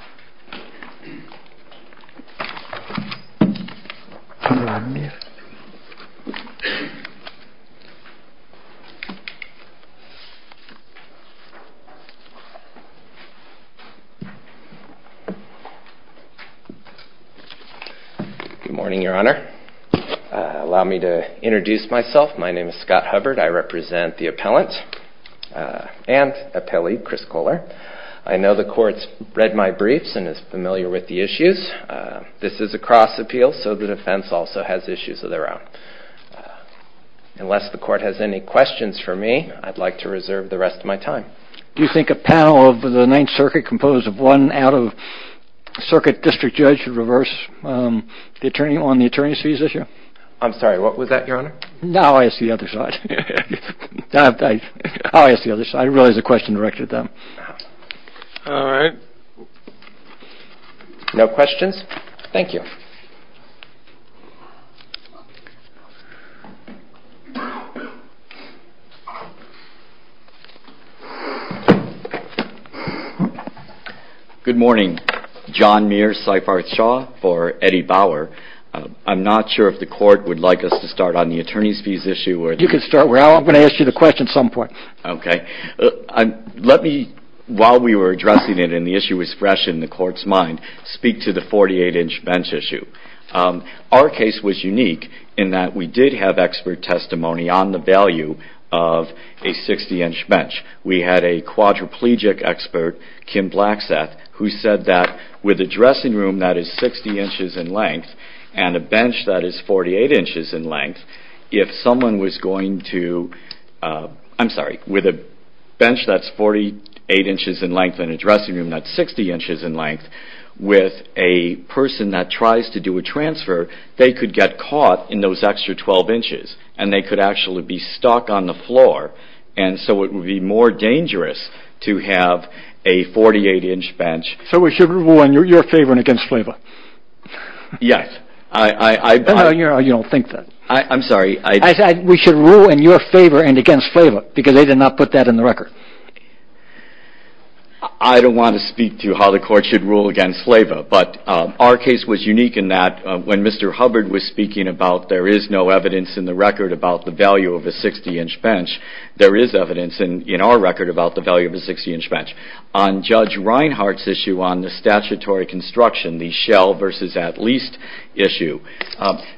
Good morning, Your Honor. Allow me to introduce myself. My name is Scott Hubbard. I represent the appellant and appellee Chris Kohler. I know the court's read my briefs and is familiar with the issues. This is a cross-appeal, so the defense also has issues of their own. Unless the court has any questions for me, I'd like to reserve the rest of my time. Do you think a panel of the Ninth Circuit composed of one out-of-circuit district judge would reverse the attorney on the attorney's fees issue? I'm sorry, what was that, Your Honor? Now I see the other side. Now I see the other side. I realize the question directed at them. All right. No questions? Thank you. Good morning. John Mears, Seifarth Shaw for Eddie Bauer. I'm not sure if the court would like us to start on the attorney's fees issue or... You can start. I'm going to ask you the question at some point. Okay. Let me, while we were addressing it and the issue was fresh in the court's mind, speak to the 48-inch bench issue. Our case was unique in that we did have expert testimony on the value of a 60-inch bench. We had a quadriplegic expert, Kim Blackseth, who said that with a dressing room that is 60 inches in length and a bench that is 48 inches in length, if someone was going to, I'm sorry, with a bench that's 48 inches in length and a dressing room that's 60 inches in length, with a person that tries to do a transfer, they could get caught in those extra 12 inches, and they could actually be stuck on the floor, and so it would be more dangerous to have a 48-inch bench. So we should rule in your favor and against Flava? Yes. I... No, no, you don't think that. I'm sorry, I... I said we should rule in your favor and against Flava, because they did not put that in the record. I don't want to speak to how the court should rule against Flava, but our case was unique in that when Mr. Hubbard was speaking about there is no evidence in the record about the value of a 60-inch bench, there is evidence in our record about the value of a 60-inch on the statutory construction, the shell versus at least issue.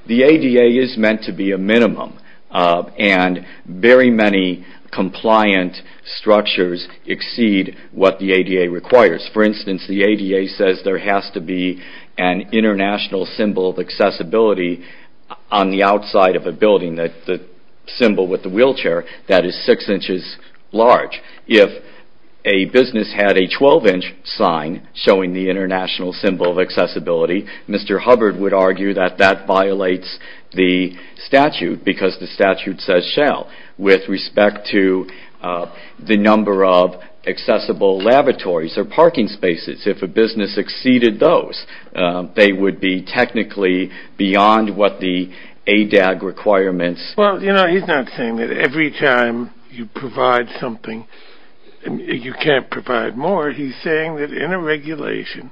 The ADA is meant to be a minimum, and very many compliant structures exceed what the ADA requires. For instance, the ADA says there has to be an international symbol of accessibility on the outside of a building, the symbol with the wheelchair, that is six inches large. If a business had a 12-inch sign showing the international symbol of accessibility, Mr. Hubbard would argue that that violates the statute, because the statute says shell. With respect to the number of accessible lavatories or parking spaces, if a business exceeded those, they would be technically beyond what the ADA requirements... Well, you know, he's not saying that every time you provide something, you can't provide more. He's saying that in a regulation,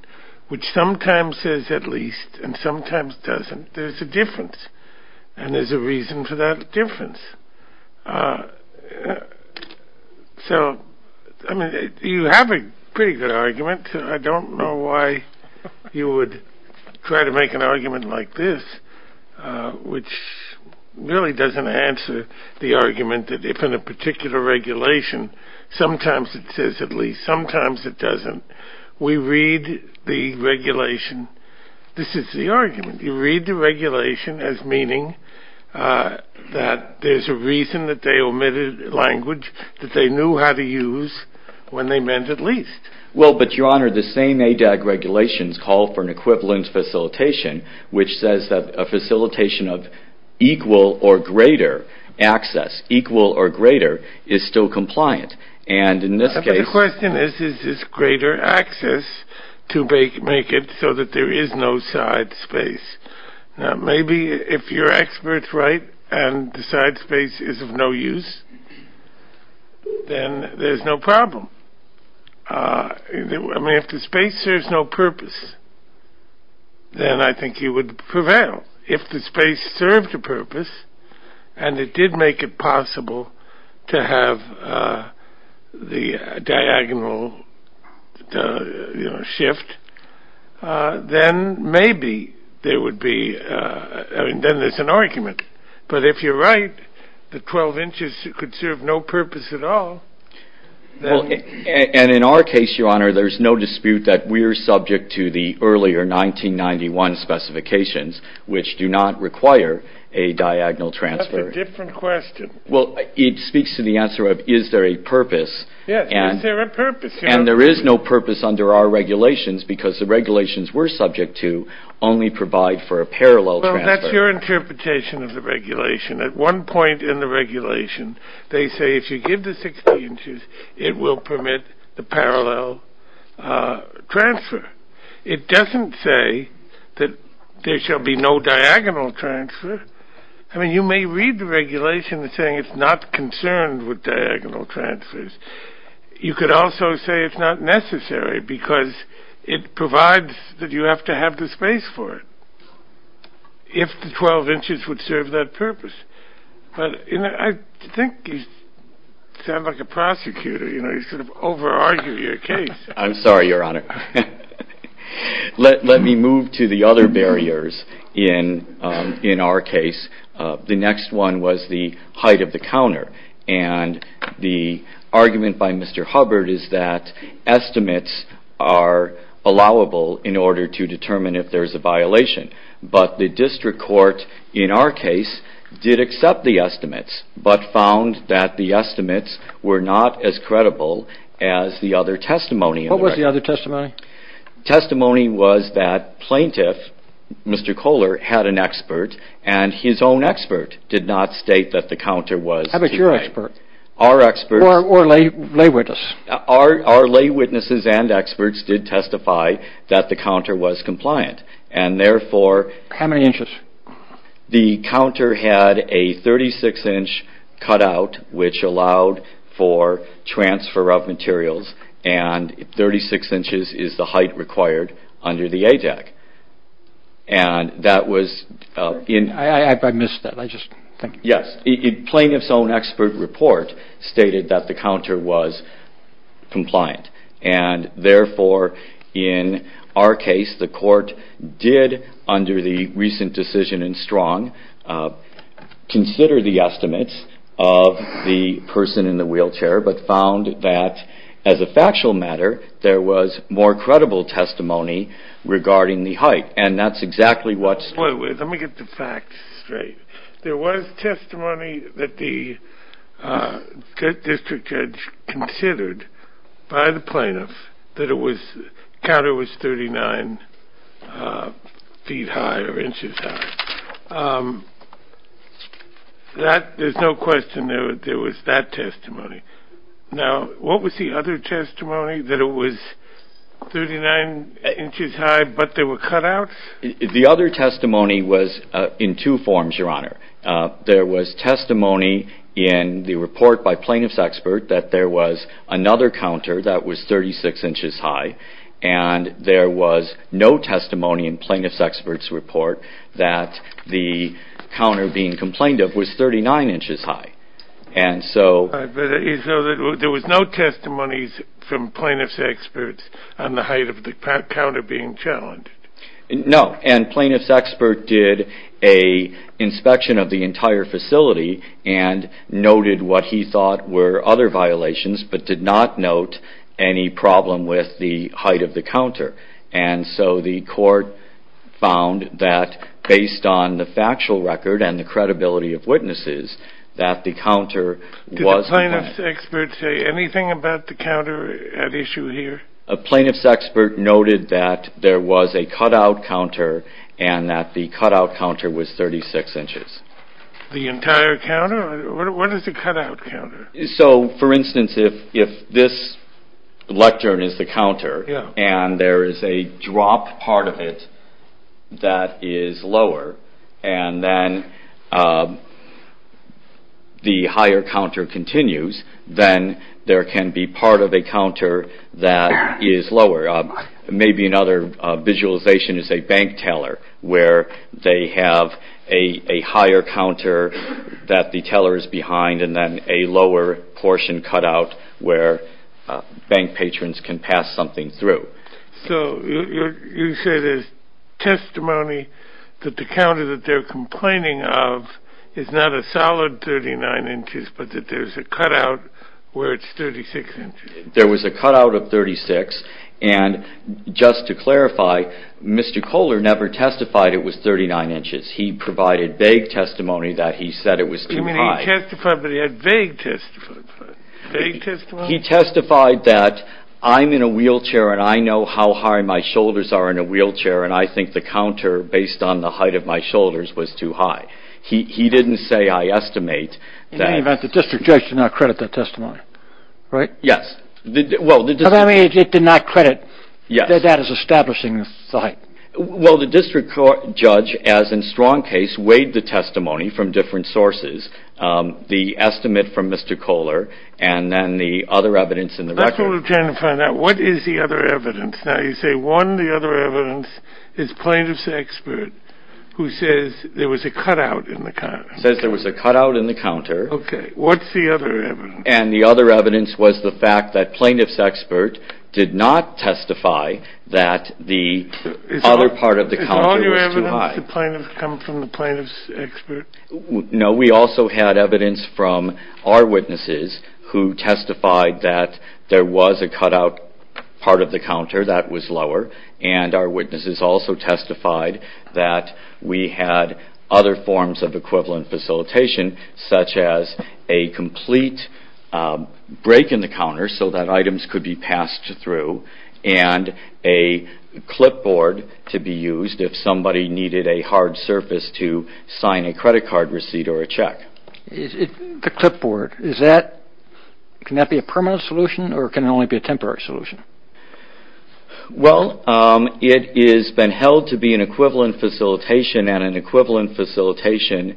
which sometimes says at least and sometimes doesn't, there's a difference, and there's a reason for that difference. So, I mean, you have a pretty good argument. I don't know why you would try to make an argument like this, which really doesn't answer the argument that if in a particular regulation, sometimes it says at least, sometimes it doesn't. We read the regulation, this is the argument, you read the regulation as meaning that there's a reason that they omitted language that they knew how to use when they meant at least. Well, but your honor, the same ADA regulations call for an equivalent facilitation, which says that a facilitation of equal or greater access, equal or greater, is still compliant. But the question is, is this greater access to make it so that there is no side space? Maybe if you're experts, right, and the side space is of no use, then there's no problem. I mean, if the space serves no purpose, then I think you would prevail. If the space served a purpose, and it did make it possible to have the diagonal shift, then maybe there would be, then there's an argument. But if you're right, the 12 inches could serve no purpose at all. And in our case, your honor, there's no dispute that we're subject to the earlier 1991 specifications, which do not require a diagonal transfer. That's a different question. Well, it speaks to the answer of, is there a purpose? Yes, is there a purpose here? And there is no purpose under our regulations, because the regulations we're subject to only provide for a parallel transfer. Well, that's your interpretation of the regulation. At one point in the regulation, they say if you give the 16 inches, it will permit the parallel transfer. It doesn't say that there will be no diagonal transfer. I mean, you may read the regulation saying it's not concerned with diagonal transfers. You could also say it's not necessary, because it provides that you have to have the space for it, if the 12 inches would serve that purpose. But I think you sound like a prosecutor. You know, you sort of over-argue your case. I'm sorry, your honor. Let me move to the other barriers in our case. The next one was the height of the counter. And the argument by Mr. Hubbard is that estimates are allowable in order to determine if there's a violation. But the district court, in our case, did accept the estimates, but found that the estimates were not as credible as the other testimony. What was the other testimony? Testimony was that plaintiff, Mr. Kohler, had an expert, and his own expert did not state that the counter was... How about your expert? Our experts... Or lay witness. Our lay witnesses and experts did testify that the counter was compliant, and therefore... How many inches? The counter had a 36-inch cutout, which allowed for transfer of materials, and 36 inches is the height required under the ADAC. And that was... I missed that. I just... Yes. Plaintiff's own expert report stated that the counter was compliant, and therefore, in our case, the court did, under the recent decision in Strong, consider the estimates of the person in the wheelchair, but found that, as a factual matter, there was more credible testimony regarding the height. And that's exactly what... Let me get the facts straight. There was testimony that the district judge considered by the plaintiff that the counter was 39 feet high or inches high. There's no question there was that testimony. Now, what was the other testimony, that it was 39 inches high, but there were cutouts? The other testimony was in two forms, Your Honor. There was testimony in the report by plaintiff's expert that there was another counter that was 36 inches high, and there was no testimony in plaintiff's expert's report that the counter being complained of was 39 inches high. And so... So there was no testimonies from plaintiff's experts on the height of the counter being challenged? No. And plaintiff's expert did an inspection of the entire facility and noted what he thought were other violations, but did not note any problem with the height of the counter. And so the court found that, based on the factual record and the credibility of witnesses, that the counter was... Did the plaintiff's expert say anything about the counter at issue here? Plaintiff's expert noted that there was a cutout counter and that the cutout counter was 36 inches. The entire counter? What is a cutout counter? So, for instance, if this lectern is the counter and there is a drop part of it that is lower and then the higher counter continues, then there can be part of a counter that is lower. Maybe another visualization is a bank teller where they have a higher counter that the teller is behind and then a lower portion cutout where bank patrons can pass something through. So you say there's testimony that the counter that they're complaining of is not a solid 39 inches but that there's a cutout where it's 36 inches. There was a cutout of 36 and, just to clarify, Mr. Kohler never testified it was 39 inches. He provided vague testimony that he said it was too high. You mean he testified, but he had vague testimony? He testified that I'm in a wheelchair and I know how high my shoulders are in a wheelchair and I think the counter, based on the height of my shoulders, was too high. He didn't say I estimate. In any event, the district judge did not credit that testimony. Right? Yes. Does that mean it did not credit that that is establishing the site? Well, the district judge, as in strong case, weighed the testimony from different sources. The estimate from Mr. Kohler and then the other evidence in the record. Let's return to find out what is the other evidence. Now, you say one of the other evidence is plaintiff's expert who says there was a cutout in the counter. Says there was a cutout in the counter. Okay. What's the other evidence? And the other evidence was the fact that plaintiff's expert did not testify that the other part of the counter was too high. Is all your evidence come from the plaintiff's expert? No. who testified that there was a cutout part of the counter that was lower and our witnesses also testified that we had other forms of equivalent facilitation such as a complete break in the counter so that items could be passed through and a clipboard to be used if somebody needed a hard surface to sign a credit card receipt or a check. The clipboard, is that... can that be a permanent solution or can it only be a temporary solution? Well, it has been held to be an equivalent facilitation and an equivalent facilitation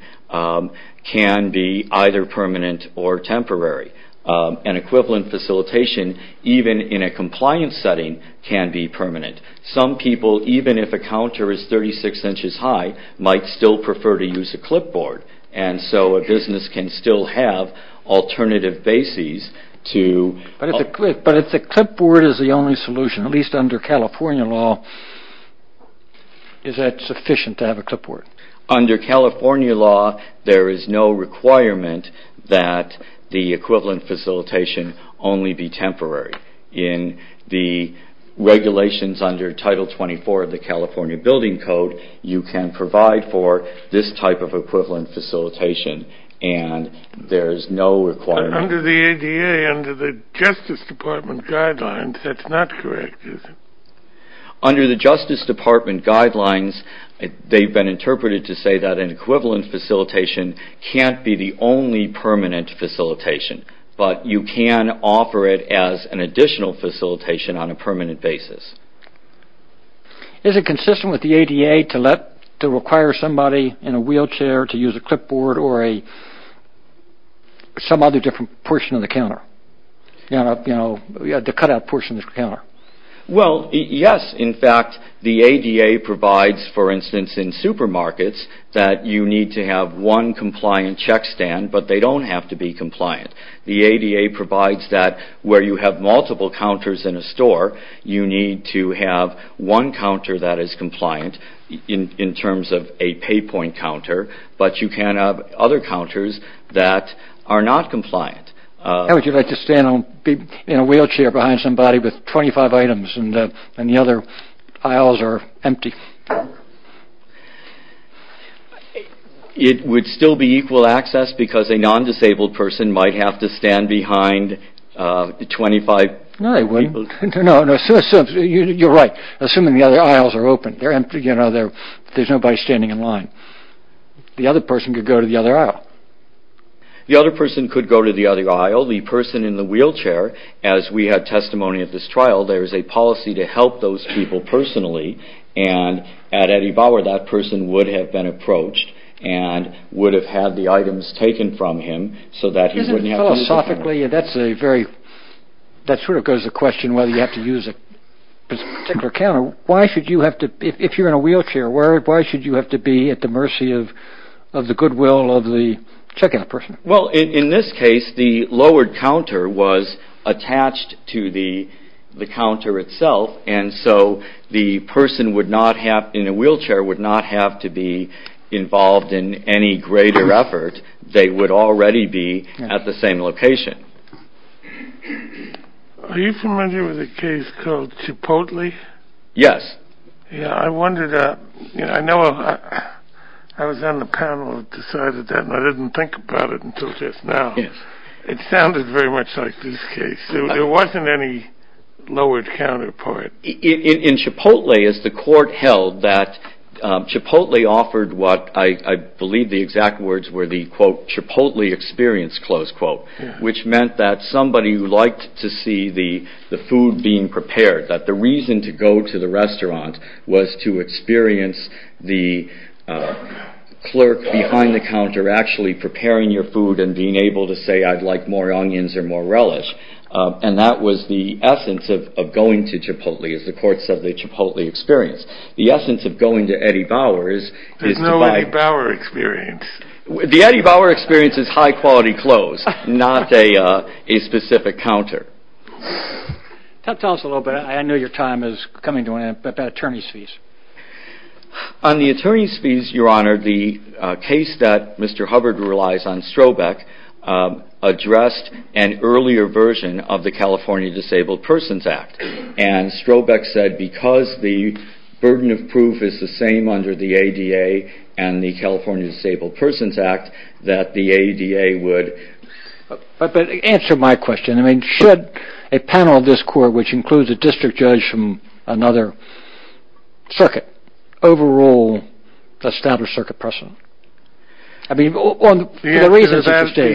can be either permanent or temporary. An equivalent facilitation even in a compliance setting can be permanent. Some people, even if a counter is 36 inches high might still prefer to use a clipboard and so a business can still have alternative bases to... But if the clipboard is the only solution at least under California law is that sufficient to have a clipboard? Under California law there is no requirement that the equivalent facilitation only be temporary. In the regulations under Title 24 of the California Building Code you can provide for this type of equivalent facilitation and there is no requirement... Under the ADA, under the Justice Department guidelines that's not correct, is it? Under the Justice Department guidelines they've been interpreted to say that an equivalent facilitation can't be the only permanent facilitation but you can offer it as an additional facilitation on a permanent basis. Is it consistent with the ADA to require somebody in a wheelchair to use a clipboard or some other different portion of the counter? You know, the cut-out portion of the counter. Well, yes. In fact, the ADA provides for instance in supermarkets that you need to have one compliant check stand but they don't have to be compliant. The ADA provides that where you have multiple counters in a store you need to have one counter that is compliant in terms of a pay point counter but you can have other counters that are not compliant. How would you like to stand in a wheelchair behind somebody with 25 items and the other aisles are empty? It would still be equal access because a non-disabled person might have to stand behind 25 people. No, they wouldn't. You're right. Assuming the other aisles are open. There's nobody standing in line. The other person could go to the other aisle. The other person could go to the other aisle. The person in the wheelchair as we had testimony at this trial there is a policy to help those people personally and at Eddie Bauer that person would have been approached and would have had the items taken from him so that he wouldn't have to use the counter. Philosophically, that sort of goes to the question whether you have to use a particular counter. Why should you have to if you're in a wheelchair Why should you have to be at the mercy of the goodwill of the check-in person? Well, in this case the lowered counter was attached to the counter itself and so the person in a wheelchair would not have to be involved in any greater effort. They would already be at the same location. Are you familiar with a case called Chipotle? Yes. Yeah, I wondered I know I was on the panel and decided that and I didn't think about it until just now. It sounded very much like this case. There wasn't any lowered counter part. In Chipotle, as the court held that Chipotle offered what I believe the exact words were the quote Chipotle experience, close quote which meant that somebody who liked to see the food being prepared that the reason to go to the restaurant was to experience the clerk behind the counter actually preparing your food and being able to say I'd like more onions or more relish and that was the essence of going to Chipotle as the court said the Chipotle experience. The essence of going to Eddie Bauer is to buy There's no Eddie Bauer experience. The Eddie Bauer experience is high quality clothes not a specific counter. Tell us a little bit I know your time is coming to an end about attorney's fees. On the attorney's fees your honor the case that Mr. Hubbard relies on Strobeck addressed an earlier version of the California Disabled Persons Act and Strobeck said because the burden of proof is the same under the ADA and the California Disabled Persons Act that the ADA would Answer my question Should a panel of this court which includes a district judge from another circuit overrule the established circuit precedent? The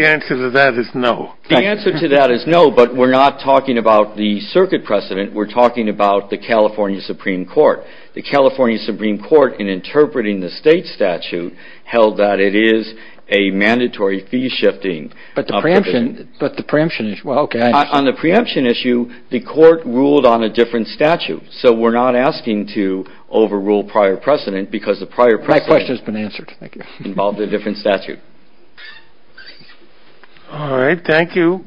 answer to that is no. The answer to that is no but we're not talking about the circuit precedent we're talking about the California Supreme Court The California Supreme Court in interpreting the state statute held that it is a mandatory fee shifting But the preemption is On the preemption issue the court ruled on a different statute so we're not asking to overrule prior precedent because the prior precedent has been answered involved a different statute Alright thank you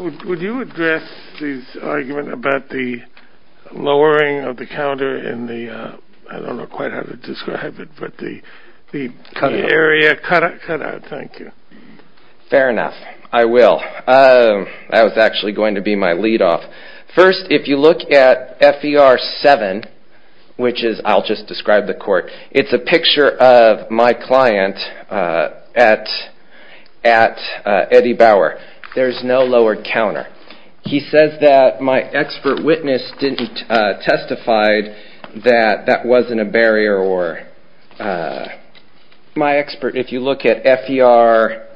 Would you address this argument about the lowering of the counter in the I don't know quite how to describe it but the area cut out thank you Fair enough I will I was actually going to be my lead off First if you look at F.E.R. 7 which is I'll just describe the court it's a picture of my client at at at Eddie Bauer There's no lowered counter He says that my expert witness didn't testified that that wasn't a barrier or My expert if you look at F.E.R.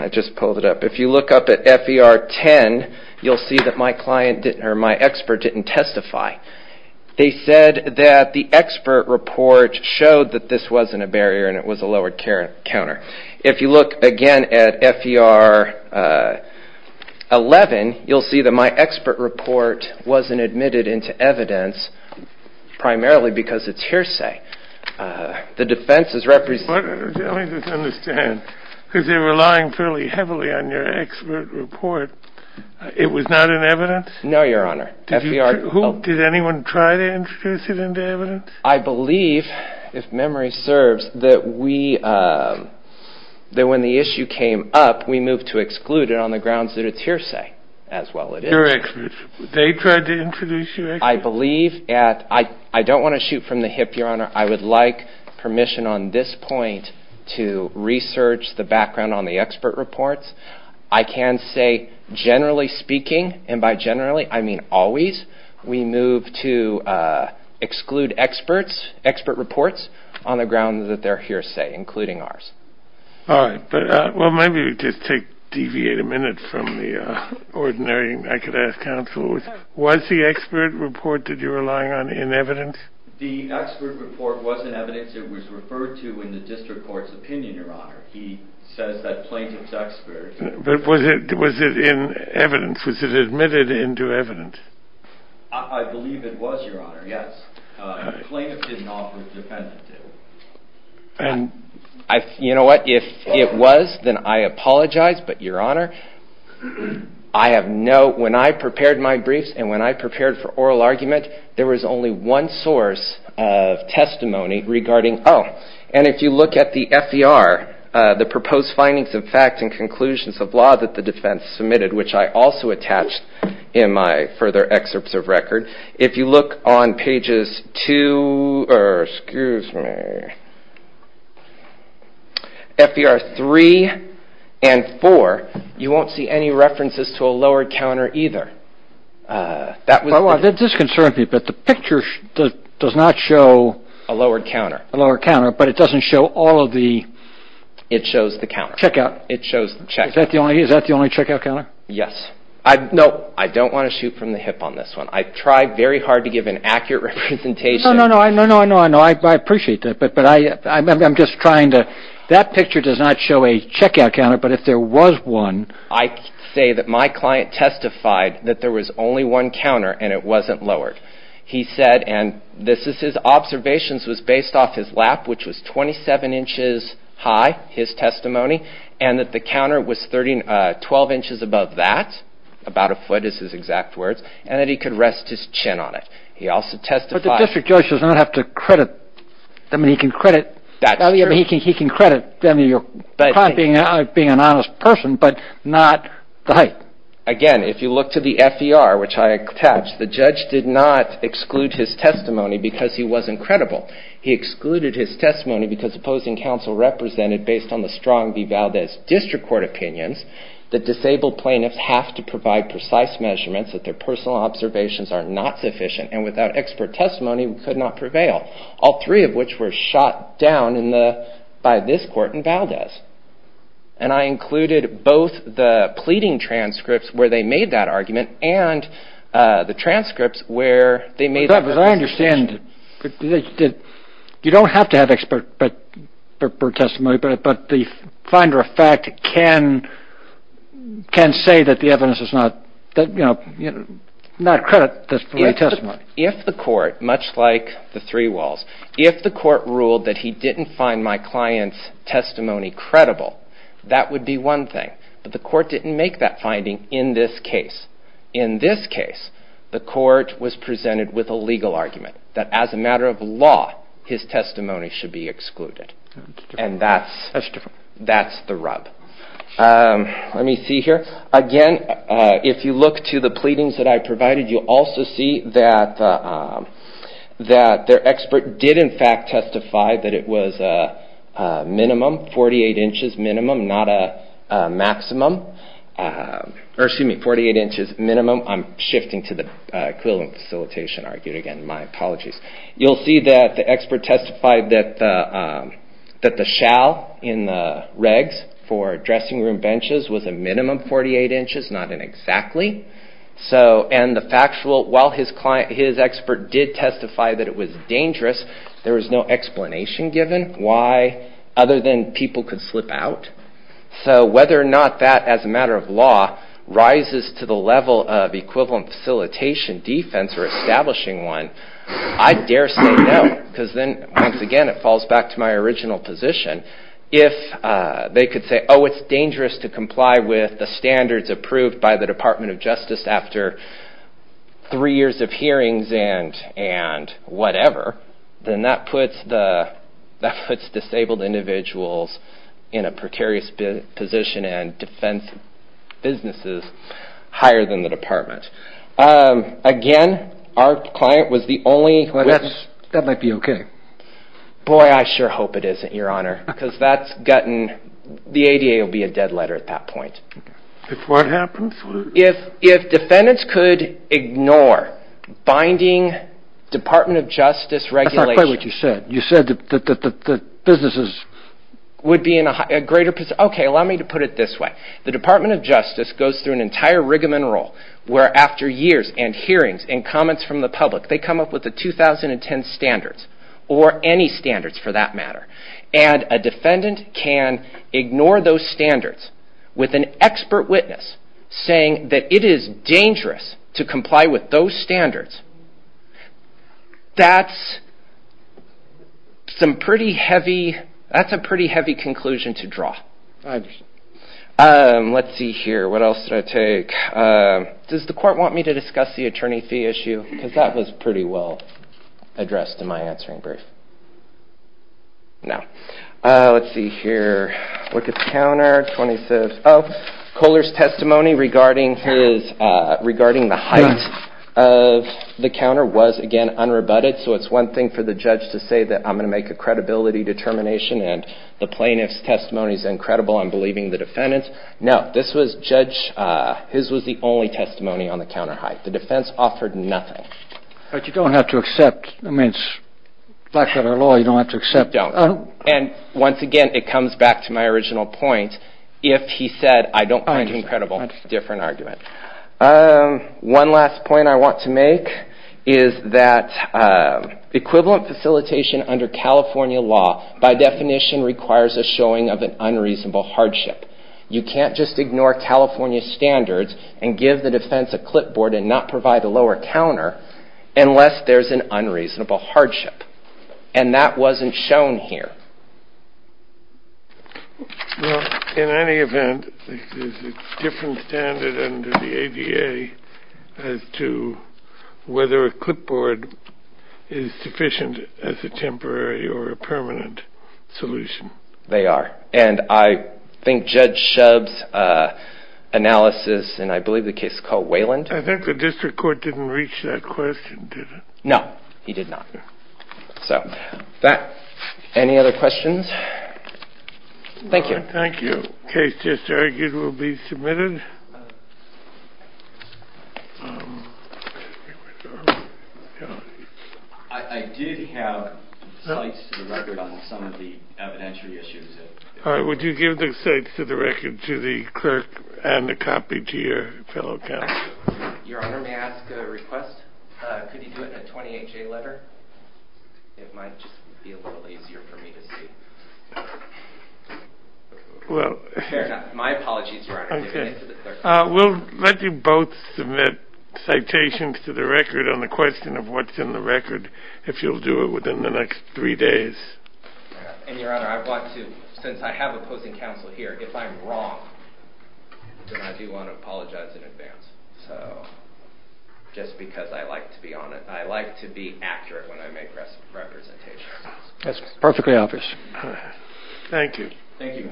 I just pulled it up If you look up at F.E.R. 10 you'll see that my client or my expert didn't testify They said that the expert report showed that this wasn't a barrier and it was a lowered counter If you look again at F.E.R. 11 you'll see that my expert report wasn't admitted into evidence primarily because it's hearsay The defense is representing Let me just understand because you're relying fairly heavily on your expert report It was not in evidence? No your honor F.E.R. Did anyone try to introduce it into evidence? I believe if memory serves that we that when the issue came up we moved to exclude it on the grounds that it's hearsay as well it is Your experts they tried to introduce you I believe I don't want to shoot from the hip your honor I would like permission on this point to research the background on the expert reports I can say generally speaking and by generally I mean always we move to exclude experts expert reports on the grounds that they're hearsay including ours Alright well maybe we just take deviate a minute from the ordinary I could ask counsel was the expert report that you were relying on in evidence? The expert report was in evidence it was referred to in the district court's opinion your honor he says that plaintiff's expert But was it in evidence? Was it admitted into the district court? I you know what if it was then I apologize but your honor I have no when I prepared my briefs and when I prepared for oral argument there was only one source of testimony regarding oh and if you look at the F.E.R. the proposed findings of facts and conclusions of law that the defense submitted which I have also attached in my further excerpts of record if you look on pages two or excuse me F.E.R. three and four you won't see any references to a lowered counter either that was that does concern me but the picture does not show a lowered counter a lowered counter but it shows the counter check out is that the only check out counter yes no I don't want to shoot from the hip on this one I try very hard to give an accurate representation no no I know I know I know I appreciate that but I I'm just trying to that picture does not show a check out counter but if there was one I say that my client testified that there was only one counter and it wasn't lowered he said and this is his observations was based off his lap which was 27 inches high his testimony and that the counter was 12 inches above that about a foot is his exact words and that he could rest his chin on it he also testified but the district judge does not have to credit him he can credit him your client being an honest person but not the height again if you look to the F.E.R. which I attached the judge did not exclude his testimony because he wasn't credible he excluded his testimony because opposing counsel represented based on the Strong v. Valdez district court opinions that disabled plaintiffs have to provide precise measurements that their personal observations are not sufficient and without expert testimony we could not prevail all three of which were shot down by this court in Valdez and I included both the pleading transcripts where they made that argument and the transcripts where they made that argument because I understand you don't have to have expert testimony but the finder of fact can can say that the evidence is not you know not credit the testimony if the court much like the three walls if the court ruled that he didn't find my client's testimony credible that would be one thing but the court didn't make that finding in this case in this case the court was presented with a legal argument that as a matter of law his testimony should be excluded and that's that's the rub let me see here again if you look to the pleadings that I provided you also see that that their expert did in fact testify that it was minimum forty eight inches minimum not a maximum or excuse me forty eight inches minimum I'm shifting to the equivalent facilitation argued again my apologies you'll see that the expert testified that that the shall in the regs for dressing room benches was a minimum forty eight inches not an exactly so and the factual while his client his expert did testify that it was dangerous there was no explanation given why other than people could slip out so whether or not that as a matter of law rises to the level of equivalent facilitation defense establishing one I dare say no because then once again to my original position if they could say oh it's dangerous to comply with the standards approved by the Department of Justice after three years of hearings and and whatever then that puts the that puts disabled individuals in a precarious position and defense businesses higher than the department uh... again our client was the only well that that might be okay boy I sure hope it isn't your honor because that's gotten the ADA will be a dead letter at that point if what happens if if defendants could ignore binding Department of Justice regulation that's not quite what you said you said that that that that businesses would be in a greater okay allow me to put it this way the Department of Justice goes through an entire rigamen roll where after years and hearings and comments from the public they come up with the 2010 standards or any standards for that matter and a defendant can ignore those standards with an expert witness saying that it is dangerous to comply with those standards that's some pretty heavy that's a pretty heavy conclusion to draw uh... let's see here what else should I take uh... does the court want me to discuss the attorney fee issue because that was pretty well addressed in my answering brief now uh... let's see here look at the defense testimony regarding his uh... regarding the height of the counter was again unrebutted so it's one thing for the judge to say that I'm gonna make a credibility determination and the plaintiff's testimony is incredible I'm believing the defendant no this was judge his was the only testimony on the counter height the defense offered nothing but you don't have to accept I mean it's blackwater law you don't have to accept don't and once again it comes back to my original point if he said I don't find it incredible different argument uh... one last point I want to make is that uh... equivalent facilitation under california law by definition requires a showing of an unreasonable hardship you can't just ignore california standards and give the defense a clipboard and not provide a lower counter unless there's an unreasonable hardship and that here in any event there's a different standard under the ADA as to whether a clipboard is sufficient as a temporary or a permanent solution they are and I think judge uh... analysis and I believe the case is called Wayland I think the district court didn't reach that question did it no he did not so that any other questions thank you thank you case just argued will be submitted uh... uh... uh... uh... uh... did have uh... some of the evidentiary issues uh... would you give the state to the record to the clerk and copy to your fellow counsel your honor may I ask a request could he do it in a twenty H A letter it might uh... will let you both submit citations to the record on the question of what's in the record if you'll do it within the next three days and your honor I want to since I have opposing counsel here if I'm wrong then I do want to apologize in advance so just because I like to be on it I like to be accurate when I make representations that's perfectly obvious thank you thank you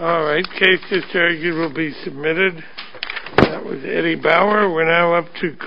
alright cases will be submitted that was eddie bauer we're now up to call